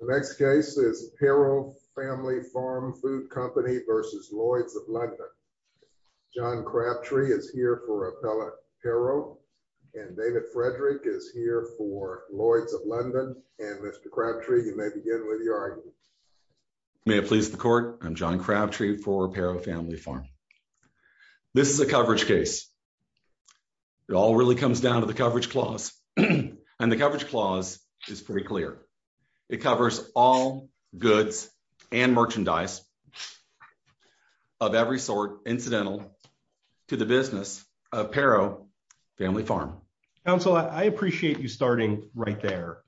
The next case is Pero Family Farm Food Company v. Lloyds of London. John Crabtree is here for appellate Pero, and David Frederick is here for Lloyds of London. And Mr. Crabtree, you may begin with your argument. May it please the court, I'm John Crabtree for Pero Family Farm. This is a coverage case. It all really comes down to the coverage clause. And the coverage clause is pretty clear. It covers all goods and merchandise of every sort incidental to the business of Pero Family Farm. Counsel, I appreciate you starting right there,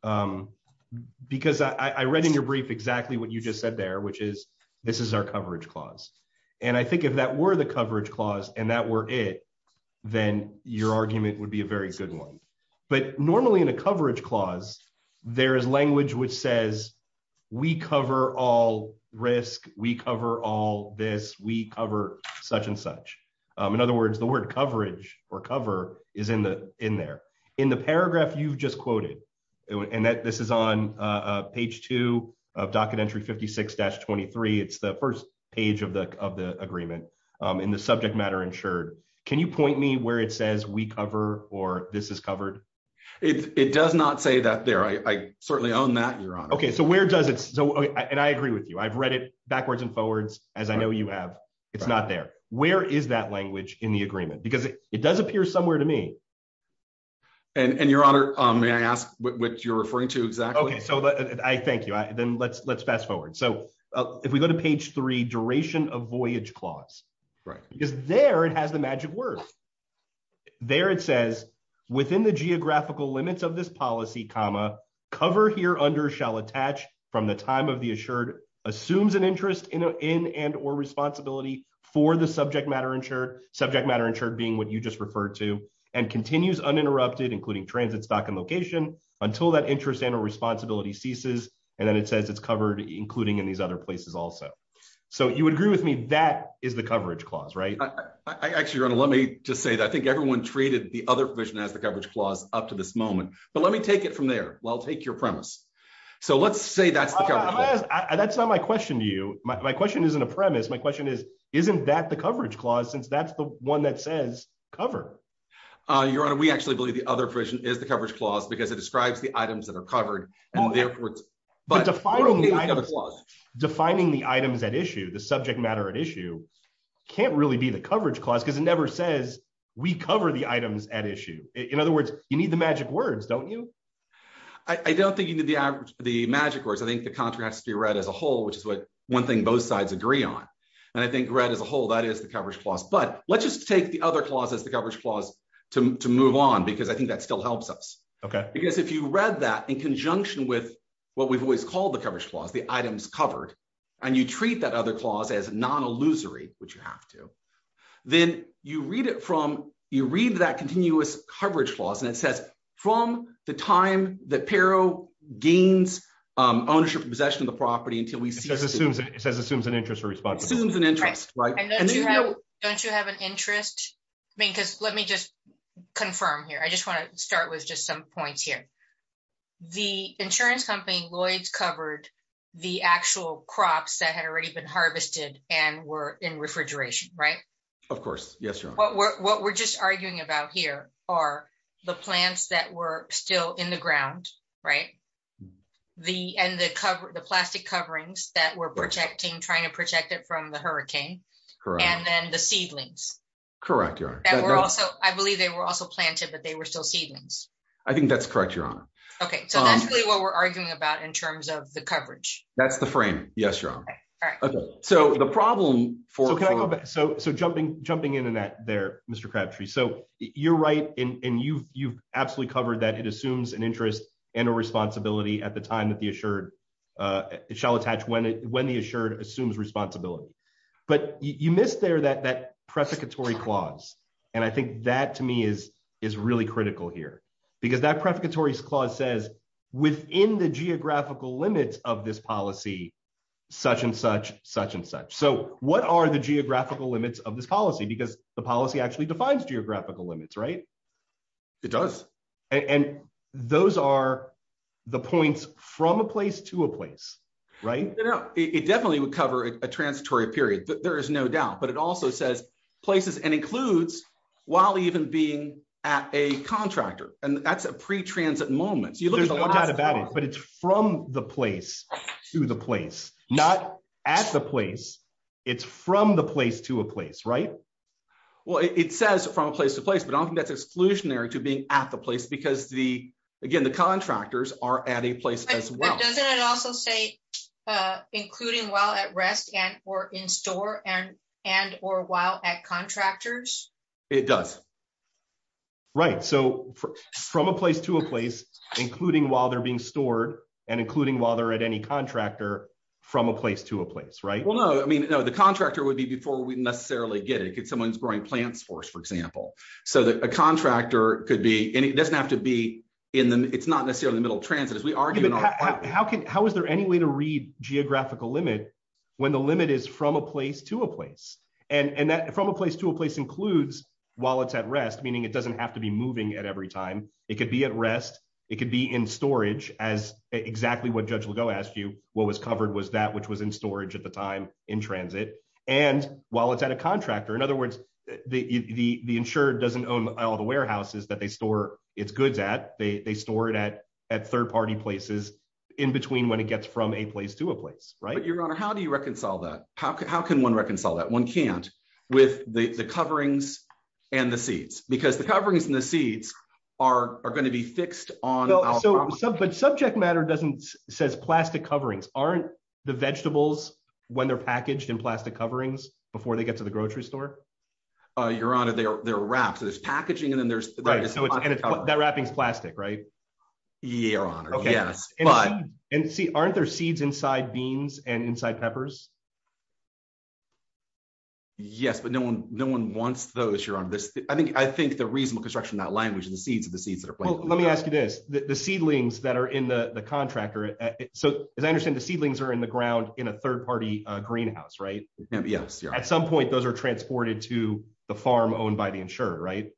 because I read in your brief exactly what you just said there, which is this is our coverage clause. And I think if that were the coverage one. But normally in a coverage clause, there is language which says, we cover all risk, we cover all this, we cover such and such. In other words, the word coverage or cover is in there. In the paragraph you've just quoted, and this is on page two of Docket Entry 56-23, it's the first page of the agreement in the subject matter insured. Can you point me where it says we cover or this is covered? It does not say that there. I certainly own that, Your Honor. Okay, so where does it? And I agree with you. I've read it backwards and forwards, as I know you have. It's not there. Where is that language in the agreement? Because it does appear somewhere to me. And Your Honor, may I ask what you're referring to exactly? Okay, so I thank you. Then let's fast forward. So if we go to page three, a voyage clause. Right. Because there it has the magic word. There it says, within the geographical limits of this policy, comma, cover here under shall attach from the time of the assured, assumes an interest in and or responsibility for the subject matter insured, subject matter insured being what you just referred to, and continues uninterrupted, including transit, stock and location, until that interest and or responsibility ceases. And then it says it's covered, including in these other places also. So you would agree with me, that is the coverage clause, right? Actually, Your Honor, let me just say that I think everyone treated the other provision as the coverage clause up to this moment. But let me take it from there. Well, take your premise. So let's say that's the cover. That's not my question to you. My question isn't a premise. My question is, isn't that the coverage clause since that's the one that says cover? Your Honor, we actually believe the other provision is the coverage clause because it describes the items that are covered. And But defining the items at issue, the subject matter at issue can't really be the coverage clause because it never says we cover the items at issue. In other words, you need the magic words, don't you? I don't think you need the magic words. I think the contract has to be read as a whole, which is what one thing both sides agree on. And I think read as a whole, that is the coverage clause. But let's just take the other clauses, the coverage clause to move on, because I think that still helps us. Because if you read that in conjunction with what we've always called the coverage clause, the items covered, and you treat that other clause as non-illusory, which you have to, then you read it from, you read that continuous coverage clause and it says from the time that Pero gains ownership and possession of the property until we see. It says assumes an interest or responsibility. Assumes an interest, right? And don't you have an interest? I mean, start with just some points here. The insurance company Lloyd's covered the actual crops that had already been harvested and were in refrigeration, right? Of course. Yes, your honor. What we're just arguing about here are the plants that were still in the ground, right? And the plastic coverings that were protecting, trying to protect it from the hurricane. Correct. And then the I think that's correct, your honor. Okay. So that's really what we're arguing about in terms of the coverage. That's the frame. Yes, your honor. Okay. So the problem for, so, so jumping, jumping into that there, Mr. Crabtree. So you're right. And you've, you've absolutely covered that it assumes an interest and a responsibility at the time that the assured, uh, it shall attach when it, when the assured assumes responsibility, but you missed there that, that prosecutory clause. And I think that to me is, is really critical here because that prefiguratory clause says within the geographical limits of this policy, such and such, such and such. So what are the geographical limits of this policy? Because the policy actually defines geographical limits, right? It does. And those are the points from a place to a place, right? No, it definitely would cover a transitory period. There is no doubt, but it also says places and includes while even being at a contractor and that's a pre-transit moment. There's no doubt about it, but it's from the place to the place, not at the place it's from the place to a place, right? Well, it says from place to place, but I don't think that's exclusionary to being at the place because the, again, the contractors are at a place as well. Doesn't it also say including while at rest and or in store and, and, or while at contractors? It does. Right. So from a place to a place, including while they're being stored and including while they're at any contractor from a place to a place, right? Well, no, I mean, no, the contractor would be before we necessarily get it. If someone's growing plants for us, for example, so that a contractor could be, and it doesn't have to be in them. It's not how is there any way to read geographical limit when the limit is from a place to a place and, and that from a place to a place includes while it's at rest, meaning it doesn't have to be moving at every time it could be at rest. It could be in storage as exactly what judge Legault asked you. What was covered was that which was in storage at the time in transit. And while it's at a contractor, in other words, the, the, the insured doesn't own all the warehouses that they store its goods at. They, they store it at, at third-party places in between when it gets from a place to a place, right? Your Honor, how do you reconcile that? How can, how can one reconcile that one can't with the coverings and the seeds because the coverings and the seeds are, are going to be fixed on. But subject matter doesn't says plastic coverings, aren't the vegetables when they're packaged in plastic coverings before they get to the that wrapping is plastic, right? Your Honor. Yes. And see, aren't there seeds inside beans and inside peppers? Yes, but no one, no one wants those. You're on this. I think, I think the reasonable construction, that language and the seeds of the seeds that are, let me ask you this, the seedlings that are in the contractor. So as I understand the seedlings are in the ground in a third-party greenhouse, right? At some point, those are transported to the farm owned by the insurer, right?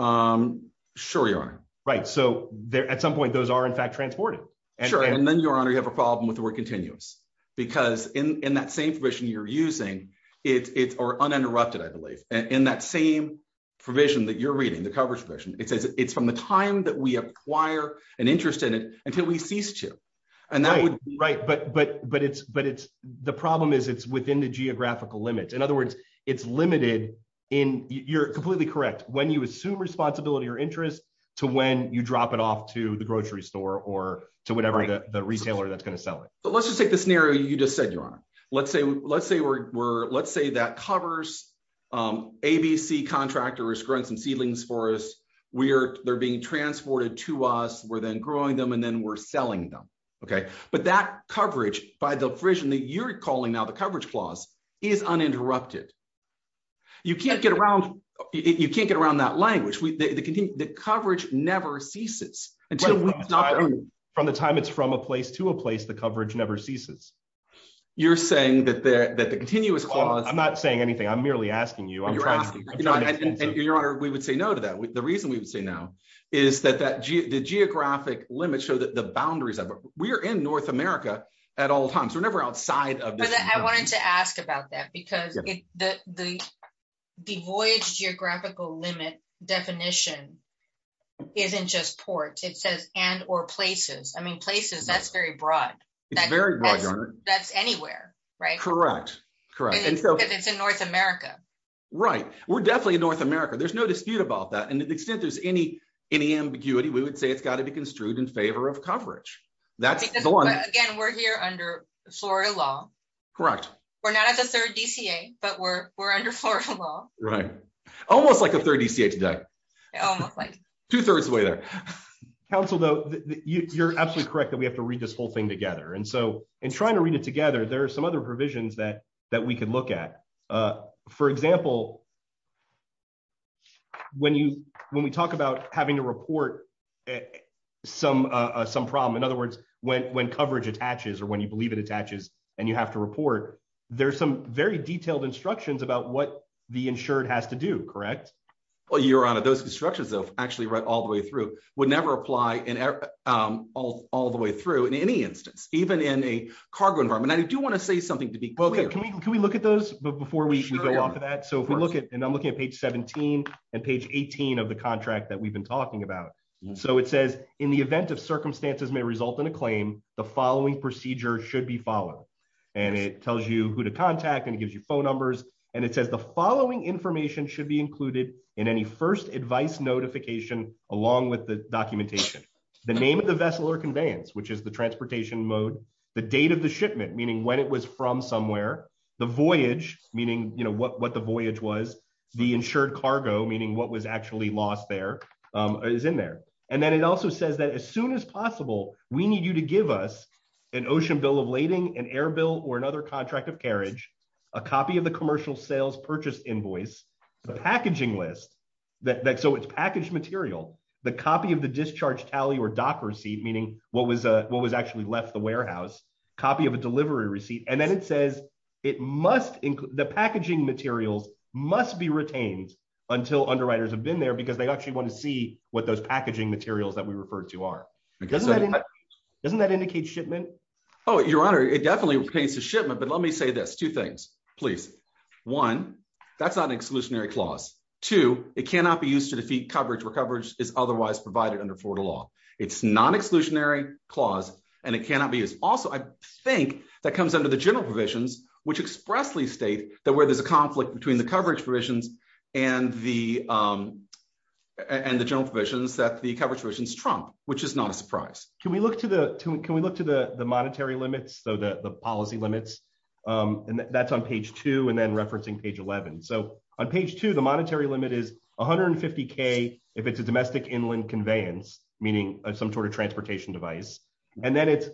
Sure, Your Honor. Right. So there, at some point, those are in fact transported. Sure. And then Your Honor, you have a problem with the word continuous because in that same provision you're using, it's, it's uninterrupted, I believe. And in that same provision that you're reading, the coverage provision, it says it's from the time that we acquire an interest in it until we cease to. And that would. Right. But, but, but it's, the problem is it's within the geographical limits. In other words, it's limited in, you're completely correct. When you assume responsibility or interest to when you drop it off to the grocery store or to whatever the retailer that's going to sell it. But let's just take the scenario you just said, Your Honor. Let's say, let's say we're, we're, let's say that covers ABC contractors growing some seedlings for us. We're, they're being transported to us. We're then growing them and then we're selling them. Okay. But that coverage by the provision that you're calling now, the coverage clause is uninterrupted. You can't get around, you can't get around that language. The coverage never ceases. From the time it's from a place to a place, the coverage never ceases. You're saying that the, that the continuous clause. I'm not saying anything. I'm merely asking you. And Your Honor, we would say no to that. The reason we would say now is that, that the geographic limits show that the boundaries of it. We are in North America at all times. We're never outside of. I wanted to ask about that because the, the, the voyage geographical limit definition isn't just ports. It says, and, or places. I mean, places, that's very broad. It's very broad, Your Honor. That's anywhere, right? Correct. Correct. And it's in North America. Right. We're definitely in North America. There's no dispute about that. And to the extent there's any, any ambiguity, we would say it's got to be construed in favor of coverage. That's the one. Again, we're here under Florida law. Correct. We're not at the third DCA, but we're, we're under Florida law. Right. Almost like a third DCA today. Almost like. Two thirds away there. Counsel though, you're absolutely correct that we have to read this whole thing together. And so in trying to read it together, there are some other provisions that, that we could look at. For example, when you, when we talk about having to report some, some problem, in other words, when, when coverage attaches or when you believe it attaches and you have to report, there's some very detailed instructions about what the insured has to do. Correct. Well, Your Honor, those constructions of actually read all the way through would never apply in all, all the way through in any instance, even in a cargo environment. I do want to say something to be clear. Can we, can we look at those before we go off of that? So if we look at, and I'm looking at page 17 and page 18 of the contract that we've been talking about. So it says in the event of circumstances may result in a claim, the following procedure should be followed. And it tells you who to contact and it gives you phone numbers. And it says the following information should be included in any first advice notification, along with the documentation, the name of the vessel or conveyance, which is the transportation mode, the date of the shipment, meaning when it was from somewhere, the voyage, meaning, you know, what, what the voyage was, the insured cargo, meaning what was actually lost there is in there. And then it also says that as soon as possible, we need you to give us an ocean bill of lading, an air bill or another contract of carriage, a copy of the commercial sales purchase invoice, the packaging list that, that, so it's packaged material, the copy of the discharge tally or meaning what was what was actually left the warehouse copy of a delivery receipt. And then it says it must include the packaging materials must be retained until underwriters have been there because they actually want to see what those packaging materials that we referred to are. Doesn't that indicate shipment? Oh, your honor, it definitely relates to shipment, but let me say this two things, please. One, that's not an exclusionary clause. Two, it cannot be used to defeat coverage where coverage is otherwise provided under Florida law. It's non-exclusionary clause, and it cannot be used. Also, I think that comes under the general provisions, which expressly state that where there's a conflict between the coverage provisions and the, and the general provisions that the coverage provisions trump, which is not a surprise. Can we look to the, can we look to the, the monetary limits? So the, the policy limits, and that's on page two and then referencing page 11. So on page two, the monetary limit is $150K if it's a domestic inland conveyance, meaning some sort of transportation device, and then it's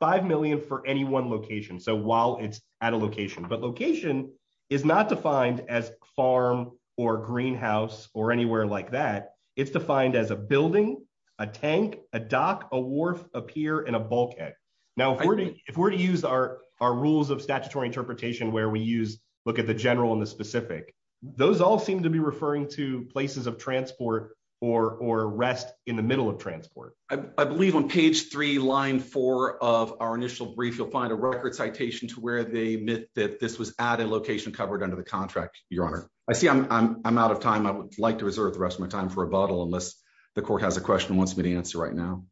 $5 million for any one location. So while it's at a location, but location is not defined as farm or greenhouse or anywhere like that. It's defined as a building, a tank, a dock, a wharf, a pier, and a bulkhead. Now, if we're to, if we're to use our, our rules of statutory interpretation, where we use, look at the general and the specific, those all seem to be referring to places of transport or, or rest in the middle of transport. I believe on page three, line four of our initial brief, you'll find a record citation to where they admit that this was at a location covered under the contract. Your honor, I see I'm, I'm, I'm out of time. I would like to reserve the rest of my time for a bottle unless the court has a question wants me to answer right now.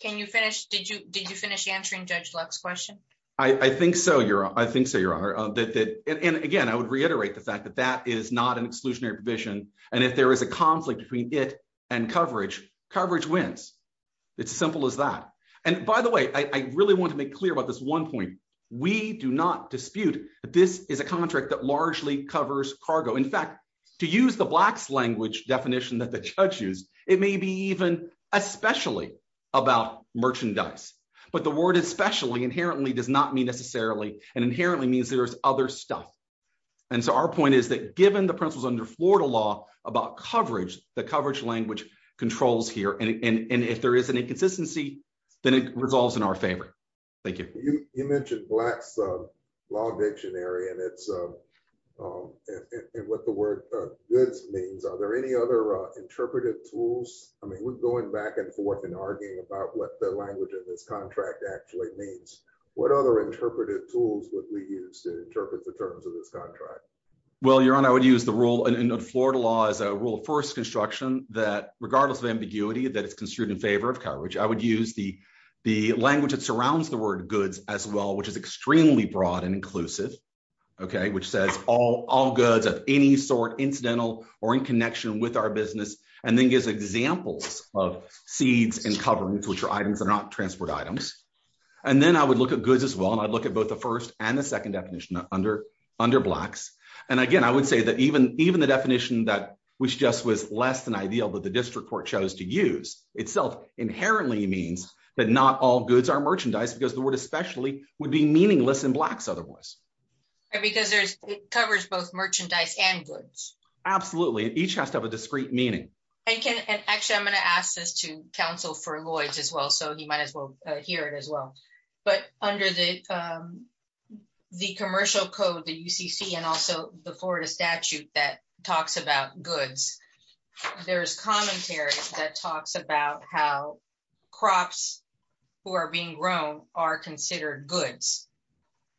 Can you finish? Did you, did you finish answering judge Lux question? I think so, your honor. I think so, your honor, that, that, and again, I would reiterate the fact that that is not an exclusionary provision. And if there is a conflict between it and coverage, coverage wins. It's simple as that. And by the way, I really want to make clear about this one point. We do not dispute that this is a contract that largely covers cargo. In fact, to use the blacks language definition that the judge used, it may be even especially about merchandise, but the word especially inherently does not mean necessarily, and inherently means there's other stuff. And so our point is that given the principles under Florida law about coverage, the coverage language controls here. And if there is an inconsistency, then it resolves in our favor. Thank you. You mentioned blacks law dictionary and it's what the word goods means. Are there any other interpretive tools? I mean, going back and forth and arguing about what the language of this contract actually means, what other interpretive tools would we use to interpret the terms of this contract? Well, your honor, I would use the rule in Florida law as a rule of first construction that regardless of ambiguity, that it's construed in favor of coverage. I would use the, the language that surrounds the word goods as well, which is extremely broad and inclusive. Okay. Which says all, all goods of any sort incidental or in connection with our business, and then gives examples of seeds and coverings, which are items that are not transport items. And then I would look at goods as well. And I'd look at both the first and the second definition under, under blacks. And again, I would say that even, even the definition that, which just was less than ideal, but the district court chose to use itself inherently means that not all goods are merchandise because the word especially would be meaningless in blacks otherwise. Because there's covers both merchandise and goods. Absolutely. Each has to have a discrete meaning. And can, and actually I'm going to ask this to counsel for Lloyd's as well. So he might as well hear it as well, but under the, the commercial code, the UCC, and also the Florida statute that talks about goods, there's commentary that talks about how crops who are being grown are considered goods.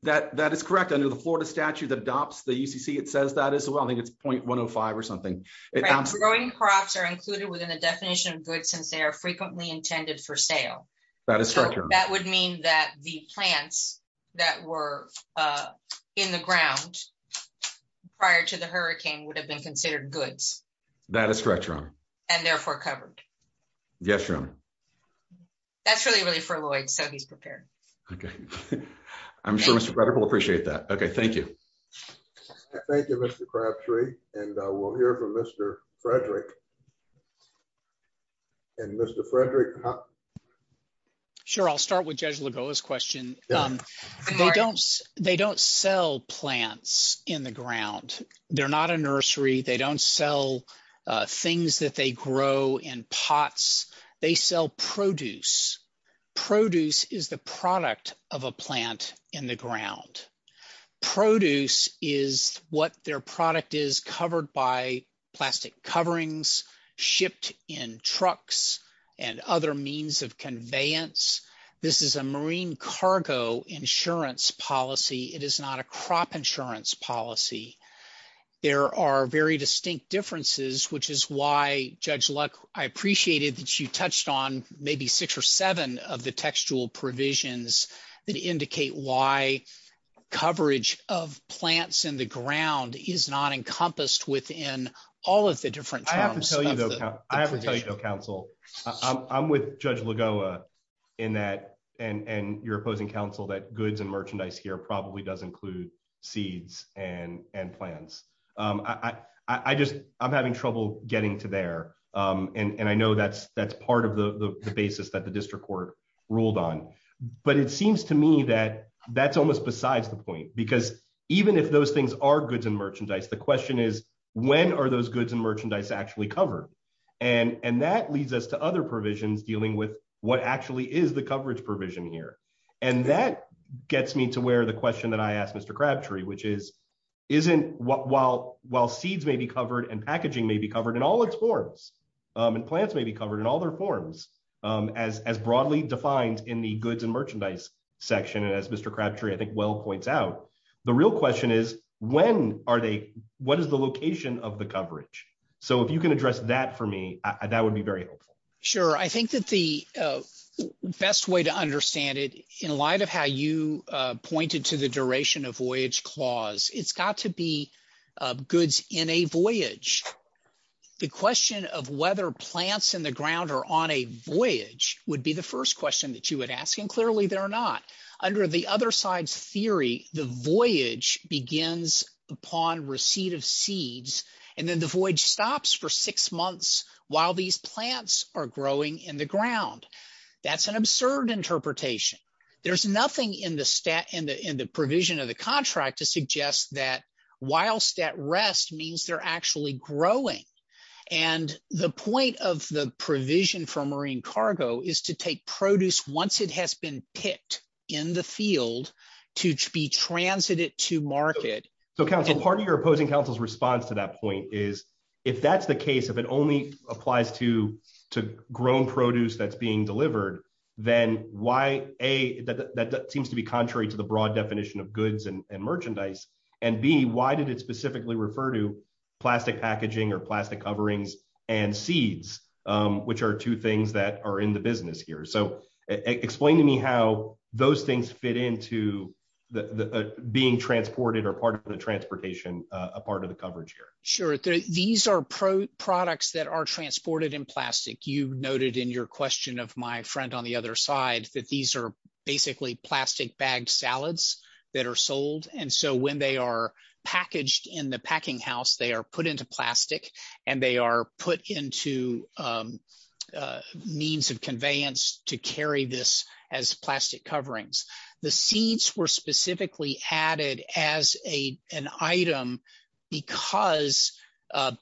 That, that is correct. Under the Florida statute that adopts the UCC, it says that as well. I think it's 0.105 or something. Growing crops are included within the definition of goods since they are frequently intended for sale. That would mean that the plants that were in the ground prior to the hurricane would have been considered goods. That is correct, Your Honor. And therefore covered. Yes, Your Honor. That's really, really for Lloyd. So he's prepared. Okay. I'm sure Mr. Bretter will appreciate that. Okay. Thank you. Thank you, Mr. Crabtree. And we'll hear from Mr. Frederick. And Mr. Frederick. Sure. I'll start with Judge Lagoa's question. They don't, they don't sell plants in the ground. They're not a nursery. They don't sell things that they grow in pots. They sell produce. Produce is the product of a plant in the ground. Produce is what their product is covered by plastic coverings, shipped in trucks, and other means of conveyance. This is a marine cargo insurance policy. It is not a crop insurance policy. There are very distinct differences, which is why, Judge Luck, I appreciated that you touched on maybe six or seven of the textual provisions that indicate why coverage of plants in the ground is not encompassed within all of the different terms. I have to tell you, though, counsel, I'm with Judge Lagoa in that, and your opposing counsel, that goods and merchandise here probably does include seeds and plants. I just, I'm having trouble getting to there. And I know that's part of the basis that the district court ruled on. But it seems to me that that's almost besides the point. Because even if those things are goods and merchandise, the question is, when are those goods and merchandise actually covered? And that leads us to other provisions dealing with what actually is the coverage provision here. And that gets me to where the question that I asked Mr. Crabtree, which is, isn't, while seeds may be covered and packaging may be covered in all its forms, and plants may be covered in all their forms, as broadly defined in the goods and merchandise section. And as Mr. Crabtree, I think, well points out, the real question is, when are they, what is the location of the coverage? So if you can address that for me, that would be very helpful. Sure. I think that the best way to understand it, in light of how you pointed to the duration of a voyage, the question of whether plants in the ground are on a voyage would be the first question that you would ask. And clearly they're not. Under the other side's theory, the voyage begins upon receipt of seeds, and then the voyage stops for six months while these plants are growing in the ground. That's an absurd interpretation. There's nothing in the stat, in the provision of the contract to suggest that whilst at rest means they're actually growing. And the point of the provision for marine cargo is to take produce once it has been picked in the field to be transited to market. So Council, part of your opposing Council's response to that point is, if that's the case, if it only applies to grown produce that's being delivered, then why, A, that seems to be contrary to the convention and merchandise, and B, why did it specifically refer to plastic packaging or plastic coverings and seeds, which are two things that are in the business here. So explain to me how those things fit into being transported or part of the transportation, a part of the coverage here. Sure. These are products that are transported in plastic. You noted in your question of my friend on the other side that these are basically plastic bagged salads that are sold. And so when they are packaged in the packing house, they are put into plastic and they are put into means of conveyance to carry this as plastic coverings. The seeds were specifically added as an item because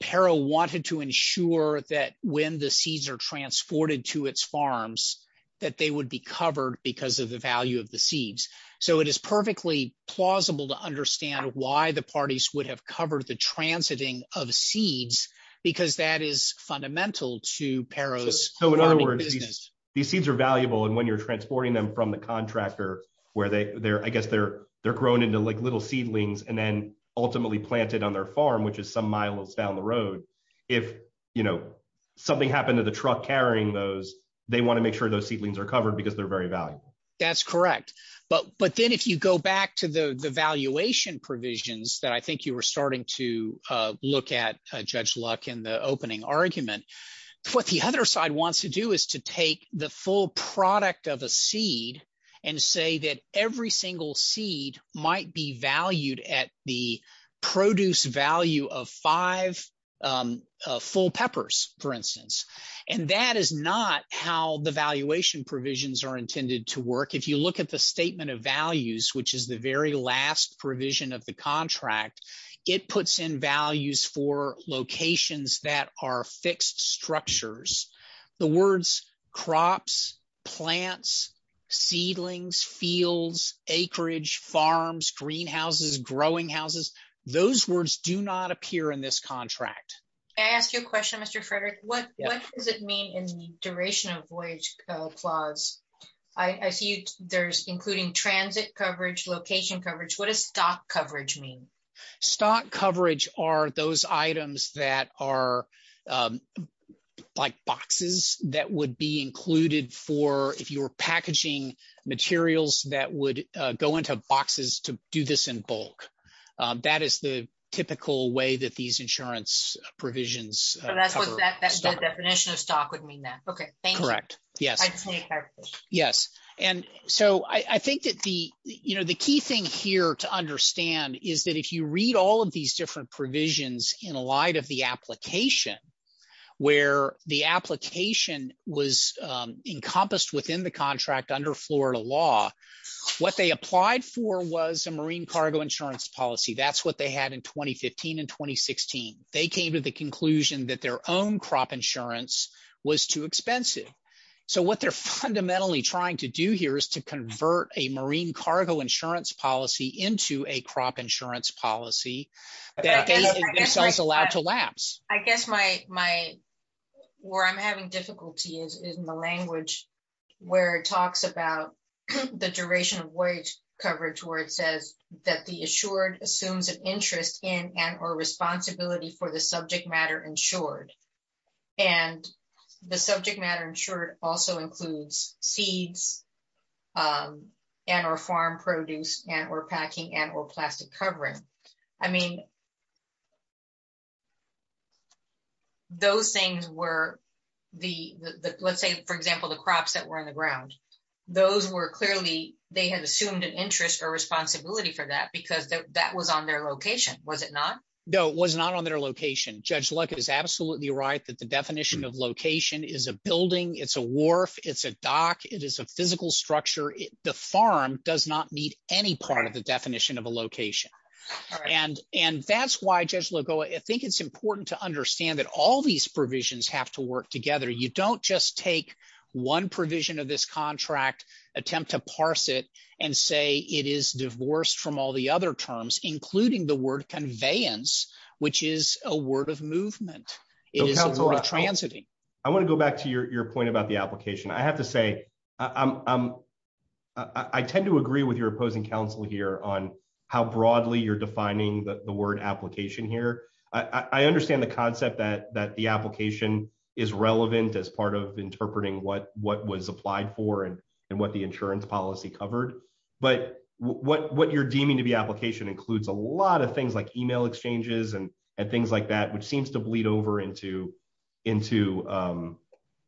Pero wanted to ensure that when the seeds are transported to its farms that they would be covered because of the value of the seeds. So it is perfectly plausible to understand why the parties would have covered the transiting of seeds, because that is fundamental to Pero's farming business. So in other words, these seeds are valuable and when you're transporting them from the contractor where I guess they're growing into like little seedlings and then ultimately planted on their farm, which is some miles down the road, if something happened to the truck carrying those, they want to make sure those seedlings are covered because they're very valuable. That's correct. But then if you go back to the valuation provisions that I think you were starting to look at, Judge Luck, in the opening argument, what the other side wants to is to take the full product of a seed and say that every single seed might be valued at the produce value of five full peppers, for instance. And that is not how the valuation provisions are intended to work. If you look at the statement of values, which is the very last provision of contract, it puts in values for locations that are fixed structures. The words crops, plants, seedlings, fields, acreage, farms, greenhouses, growing houses, those words do not appear in this contract. Can I ask you a question, Mr. Frederick? What does it mean in the duration of voyage clause? I see there's including transit coverage, location coverage. What is stock coverage mean? Stock coverage are those items that are like boxes that would be included for if you were packaging materials that would go into boxes to do this in bulk. That is the typical way that these insurance provisions. That's what that definition of stock would mean Okay, correct. Yes. Yes. And so I think that the, you know, the key thing here to understand is that if you read all of these different provisions in light of the application, where the application was encompassed within the contract under Florida law, what they applied for was a marine cargo insurance policy. That's what they had in 2015 and 2016. They came to the conclusion that their own crop insurance was too expensive. So what they're fundamentally trying to do here is to convert a marine cargo insurance policy into a crop insurance policy that is allowed to lapse. I guess where I'm having difficulty is in the language where it talks about the duration of voyage coverage where it says that the assured assumes an interest in and or responsibility for the subject matter insured. And the subject matter insured also includes seeds and or farm produce and or packing and or plastic covering. I mean, those things were the, let's say for example, the crops that were in the ground, those were clearly, they had assumed an interest or responsibility for that because that was on their location, was it not? No, it was not on their location. Judge Luck is absolutely right that the definition of location is a building, it's a wharf, it's a dock, it is a physical structure. The farm does not meet any part of the definition of a location. And that's why Judge Lagoa, I think it's important to understand that all these provisions have to work together. You don't just take one provision of this contract, attempt to parse it and say it is divorced from all the other terms, including the word conveyance, which is a word of movement. I want to go back to your point about the application. I have to say, I tend to agree with your opposing counsel here on how broadly you're defining the word application here. I understand the concept that the application is relevant as part of what you're deeming to be application includes a lot of things like email exchanges and things like that, which seems to bleed over into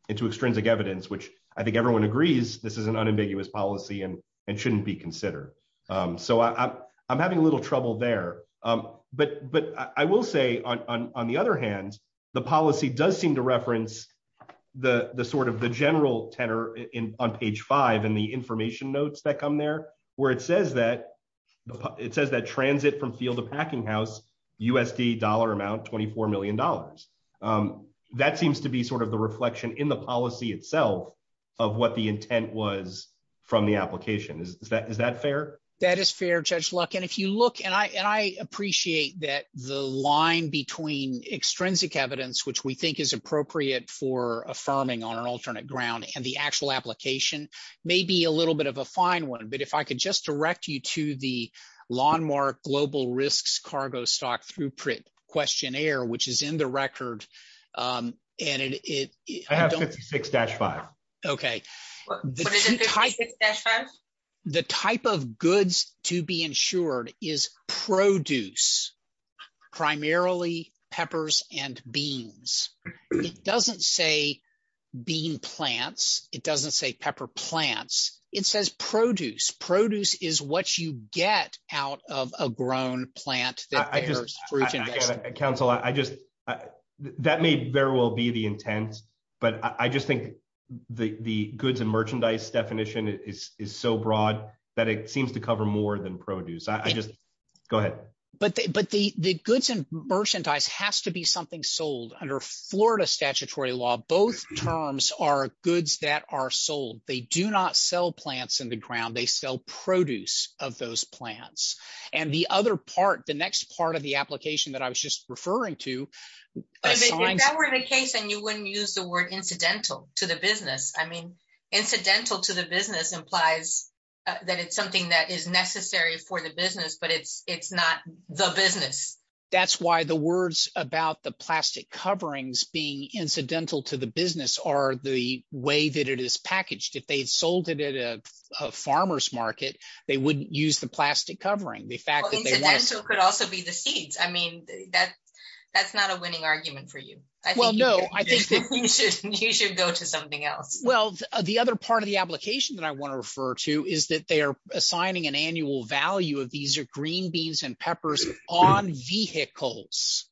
extrinsic evidence, which I think everyone agrees this is an unambiguous policy and shouldn't be considered. So I'm having a little trouble there. But I will say, on the other hand, the policy does seem to reference the sort of the general tenor on page five in the information notes that come there, where it says that transit from field to packinghouse, USD dollar amount, $24 million. That seems to be sort of the reflection in the policy itself of what the intent was from the application. Is that fair? That is fair, Judge Luck. And if you look, and I appreciate that the line between extrinsic evidence, which we think is appropriate for affirming on an alternate ground and the actual application, may be a little bit of a fine one. But if I could just direct you to the landmark global risks cargo stock throughput questionnaire, which is in the record. And it- I have 56-5. Okay. What is it, 56-5? The type of goods to be insured is produce, primarily peppers and beans. It doesn't say bean plants. It doesn't say pepper plants. It says produce. Produce is what you get out of a grown plant that bears fruit and vegetables. Counsel, I just- that may very well be the broad that it seems to cover more than produce. I just- go ahead. But the goods and merchandise has to be something sold under Florida statutory law. Both terms are goods that are sold. They do not sell plants in the ground. They sell produce of those plants. And the other part, the next part of the application that I was just referring to- If that were the case, then you wouldn't use the word incidental to the business. I mean, that it's something that is necessary for the business, but it's not the business. That's why the words about the plastic coverings being incidental to the business are the way that it is packaged. If they had sold it at a farmer's market, they wouldn't use the plastic covering. The fact that they- Incidental could also be the seeds. I mean, that's not a winning argument for you. I think- Well, no, I think that- You should go to something else. Well, the other part of the application that I want to refer to is that they are assigning an annual value of these green beans and peppers on vehicles.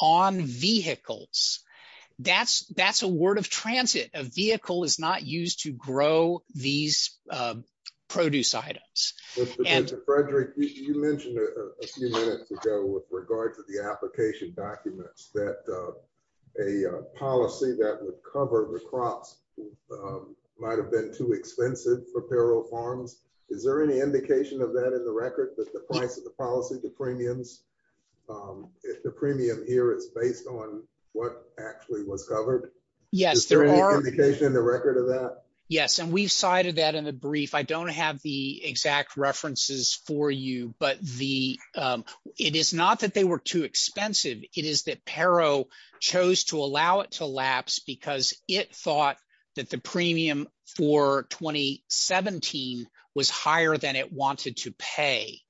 On vehicles. That's a word of transit. A vehicle is not used to grow these produce items. Mr. Frederick, you mentioned a few minutes ago with regard to the application documents that a policy that would cover the crops might have been too expensive for payroll farms. Is there any indication of that in the record, that the price of the policy, the premiums, if the premium here is based on what actually was covered? Yes, there are- Is there any indication in the record of that? Yes, and we've cited that in a brief. I is that Paro chose to allow it to lapse because it thought that the premium for 2017 was higher than it wanted to pay.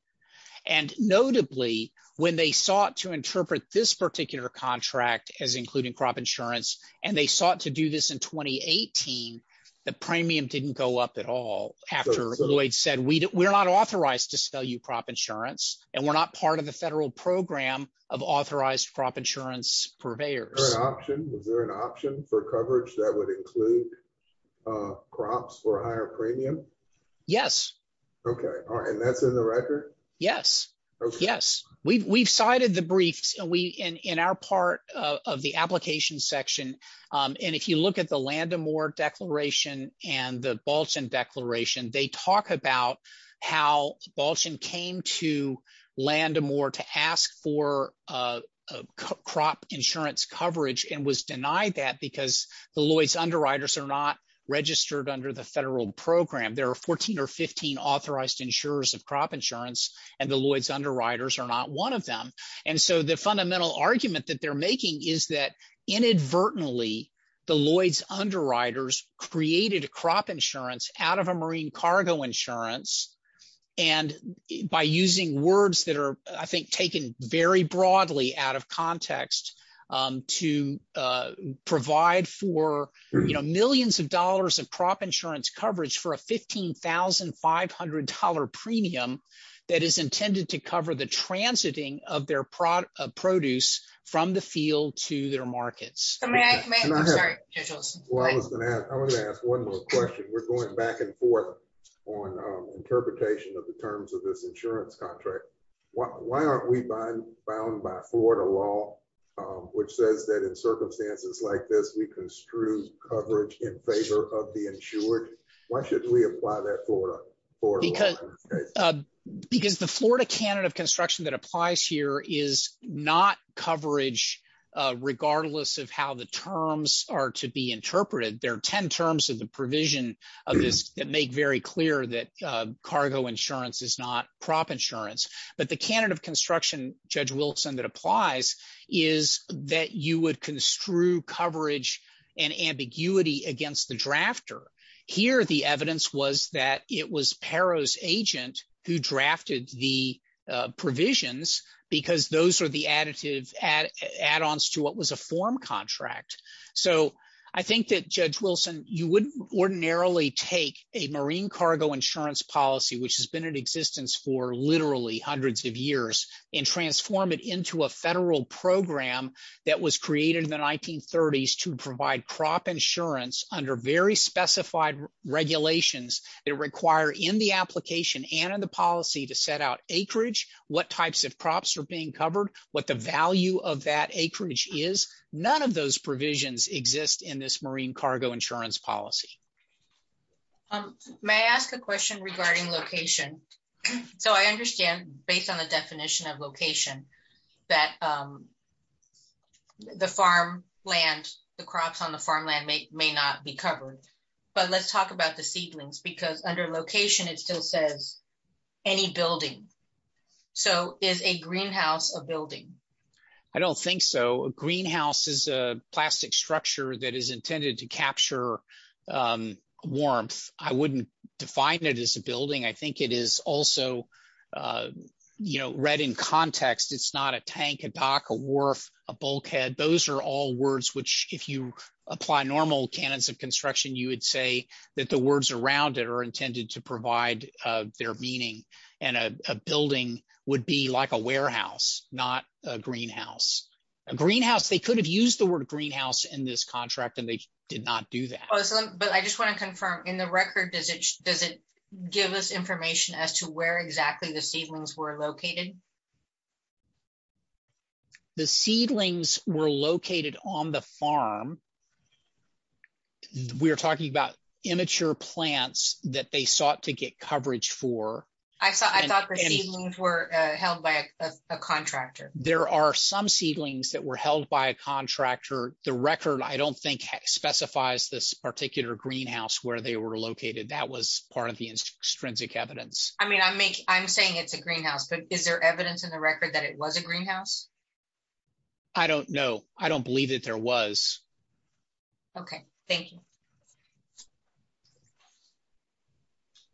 Notably, when they sought to interpret this particular contract as including crop insurance, and they sought to do this in 2018, the premium didn't go up at all after Lloyd said, we're not authorized to sell you crop insurance, and we're not part of the federal program of authorized crop insurance purveyors. Was there an option for coverage that would include crops for a higher premium? Yes. Okay. All right. That's in the record? Yes. Yes. We've cited the briefs in our part of the application section, and if you look at the Land O'More declaration and the Balchon declaration, they talk about how Balchon came to Land O'More to ask for crop insurance coverage and was denied that because the Lloyd's underwriters are not registered under the federal program. There are 14 or 15 authorized insurers of crop insurance, and the Lloyd's underwriters are not one of them. The fundamental argument that they're making is that inadvertently, the Lloyd's underwriters created a crop insurance out of a marine cargo insurance, and by using words that are, I think, taken very broadly out of context to provide for millions of dollars of crop insurance coverage for a $15,500 premium that is intended to cover the transiting of their produce from the field to their markets. I'm going to ask one more question. We're going back and forth on interpretation of the terms of this insurance contract. Why aren't we bound by Florida law, which says that in circumstances like this, we construe coverage in favor of the insured? Why shouldn't we apply that Florida law? Because the Florida canon of construction that applies here is not coverage regardless of how the terms are to be interpreted. There are 10 terms of the provision of this that make very clear that cargo insurance is not crop insurance, but the canon of construction, Judge Wilson, that applies is that you would construe coverage and ambiguity against the drafter. Here, the evidence was that it was Pero's agent who drafted the provisions because those are additive add-ons to what was a form contract. I think that, Judge Wilson, you wouldn't ordinarily take a marine cargo insurance policy, which has been in existence for literally hundreds of years, and transform it into a federal program that was created in the 1930s to provide crop insurance under very specified regulations that require, in the application and in the policy, to set out acreage, what types of crops are being covered, what the value of that acreage is. None of those provisions exist in this marine cargo insurance policy. May I ask a question regarding location? So I understand, based on the definition of location, that the farmland, the crops on the farmland may not be covered, but let's talk about the seedlings because under location, it still says any building. So is a greenhouse a building? I don't think so. A greenhouse is a plastic structure that is intended to capture warmth. I wouldn't define it as a building. I think it is also read in context. It's not a tank, a dock, a wharf, a bulkhead. Those are all words which, if you apply normal canons of construction, you would say that the words around it are intended to provide their meaning, and a building would be like a warehouse, not a greenhouse. A greenhouse, they could have used the word greenhouse in this contract, and they did not do that. But I just want to confirm, in the record, does it give us information as to where exactly the seedlings were located? The seedlings were located on the farm. We're talking about immature plants that they coverage for. I thought the seedlings were held by a contractor. There are some seedlings that were held by a contractor. The record, I don't think, specifies this particular greenhouse where they were located. That was part of the extrinsic evidence. I mean, I'm saying it's a greenhouse, but is there evidence in the record that it was a greenhouse? I don't know. I don't know.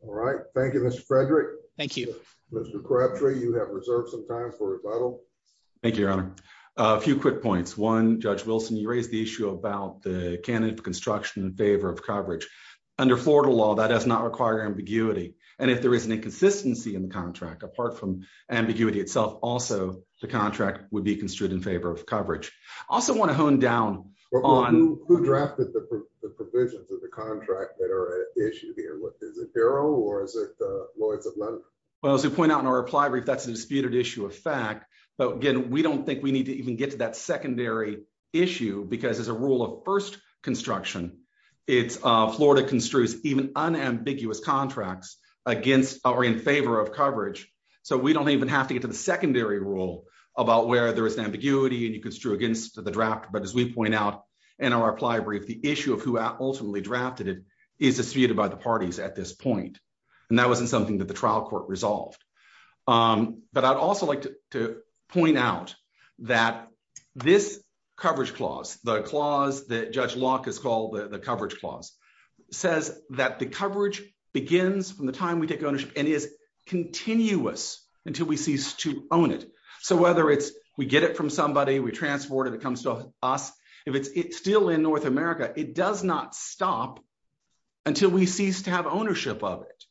All right. Thank you, Mr. Frederick. Thank you. Mr. Crabtree, you have reserved some time for rebuttal. Thank you, Your Honor. A few quick points. One, Judge Wilson, you raised the issue about the canon of construction in favor of coverage. Under Florida law, that does not require ambiguity, and if there is an inconsistency in the contract, apart from ambiguity itself, also the contract would be construed in favor of coverage. I also want to hone down on- Is it the Bureau or is it the Lawyers of London? Well, as we point out in our reply brief, that's a disputed issue of fact, but again, we don't think we need to even get to that secondary issue because as a rule of first construction, Florida construes even unambiguous contracts against or in favor of coverage, so we don't even have to get to the secondary rule about where there is ambiguity and you construe against the draft, but as we point out in our reply brief, the issue of who ultimately drafted it is disputed by the parties at this point, and that wasn't something that the trial court resolved, but I'd also like to point out that this coverage clause, the clause that Judge Locke has called the coverage clause, says that the coverage begins from the time we take ownership and is continuous until we cease to own it, so whether it's we get it from somebody, we transport it, it comes to us, if it's still in North America, it does not stop until we cease to have ownership of it.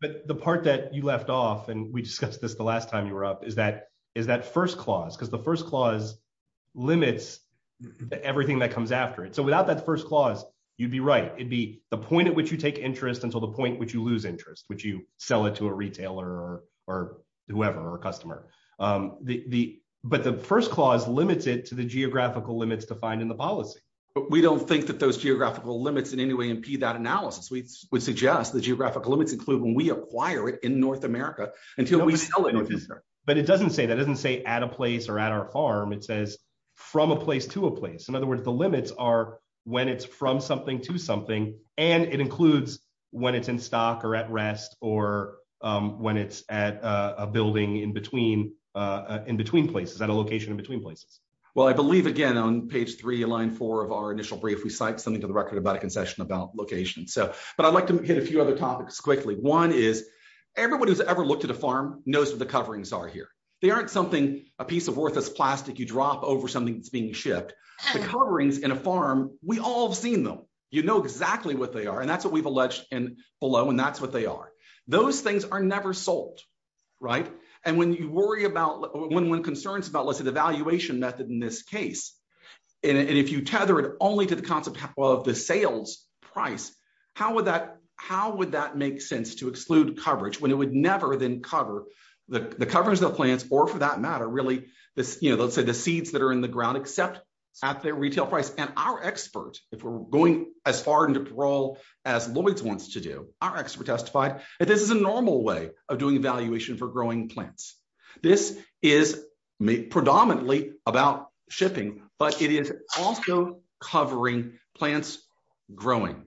But the part that you left off, and we discussed this the last time you were up, is that first clause, because the first clause limits everything that comes after it, so without that first clause, you'd be right, it'd be the point at which you take interest until the point which you lose interest, which you sell it to a retailer or whoever or a customer, but the first clause limits it to the geographical limits defined in the policy. But we don't think that those geographical limits in any way impede that analysis. We would suggest the geographical limits include when we acquire it in North America until we sell it. But it doesn't say that, it doesn't say at a place or at our farm, it says from a place to a place. In other words, the limits are when it's from something to something, and it includes when it's in stock or at rest, or when it's at a building in between places, at a location in between places. Well, I believe, again, on page three, line four of our initial brief, we cite something to the record about a concession about location. But I'd like to hit a few other topics quickly. One is, everyone who's ever looked at a farm knows what the coverings are here. They aren't something, a piece of worthless plastic you drop over something that's being shipped. The coverings in a farm, we all have seen them. You know exactly what they are, and that's what we've alleged below, and that's what they are. Those things are never sold, right? And when you worry about, when concerns about, let's say, the valuation method in this case, and if you tether it only to the concept of the sales price, how would that make sense to exclude coverage when it would never then cover the coverings of the plants, or for that matter, really, let's say the seeds that are in the ground except at their retail price? And our expert, if we're going as far into parole as Lloyd's wants to do, our expert testified that this is a normal way of doing valuation for growing plants. This is predominantly about shipping, but it is also covering plants growing,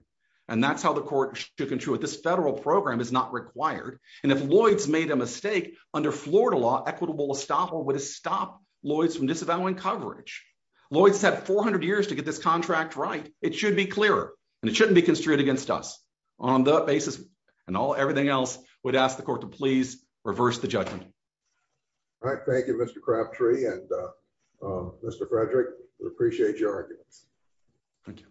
and that's how the court shook and chewed. This federal program is not required, and if Lloyd's made a mistake, under Florida law, equitable estoppel would have stopped Lloyd's from disavowing coverage. Lloyd's had 400 years to get this contract right. It should be clearer, and it shouldn't be construed against us. On that basis and everything else, we'd ask the court to please reverse the judgment. All right. Thank you, Mr. Crabtree, and Mr. Frederick, we appreciate your arguments. Thank you.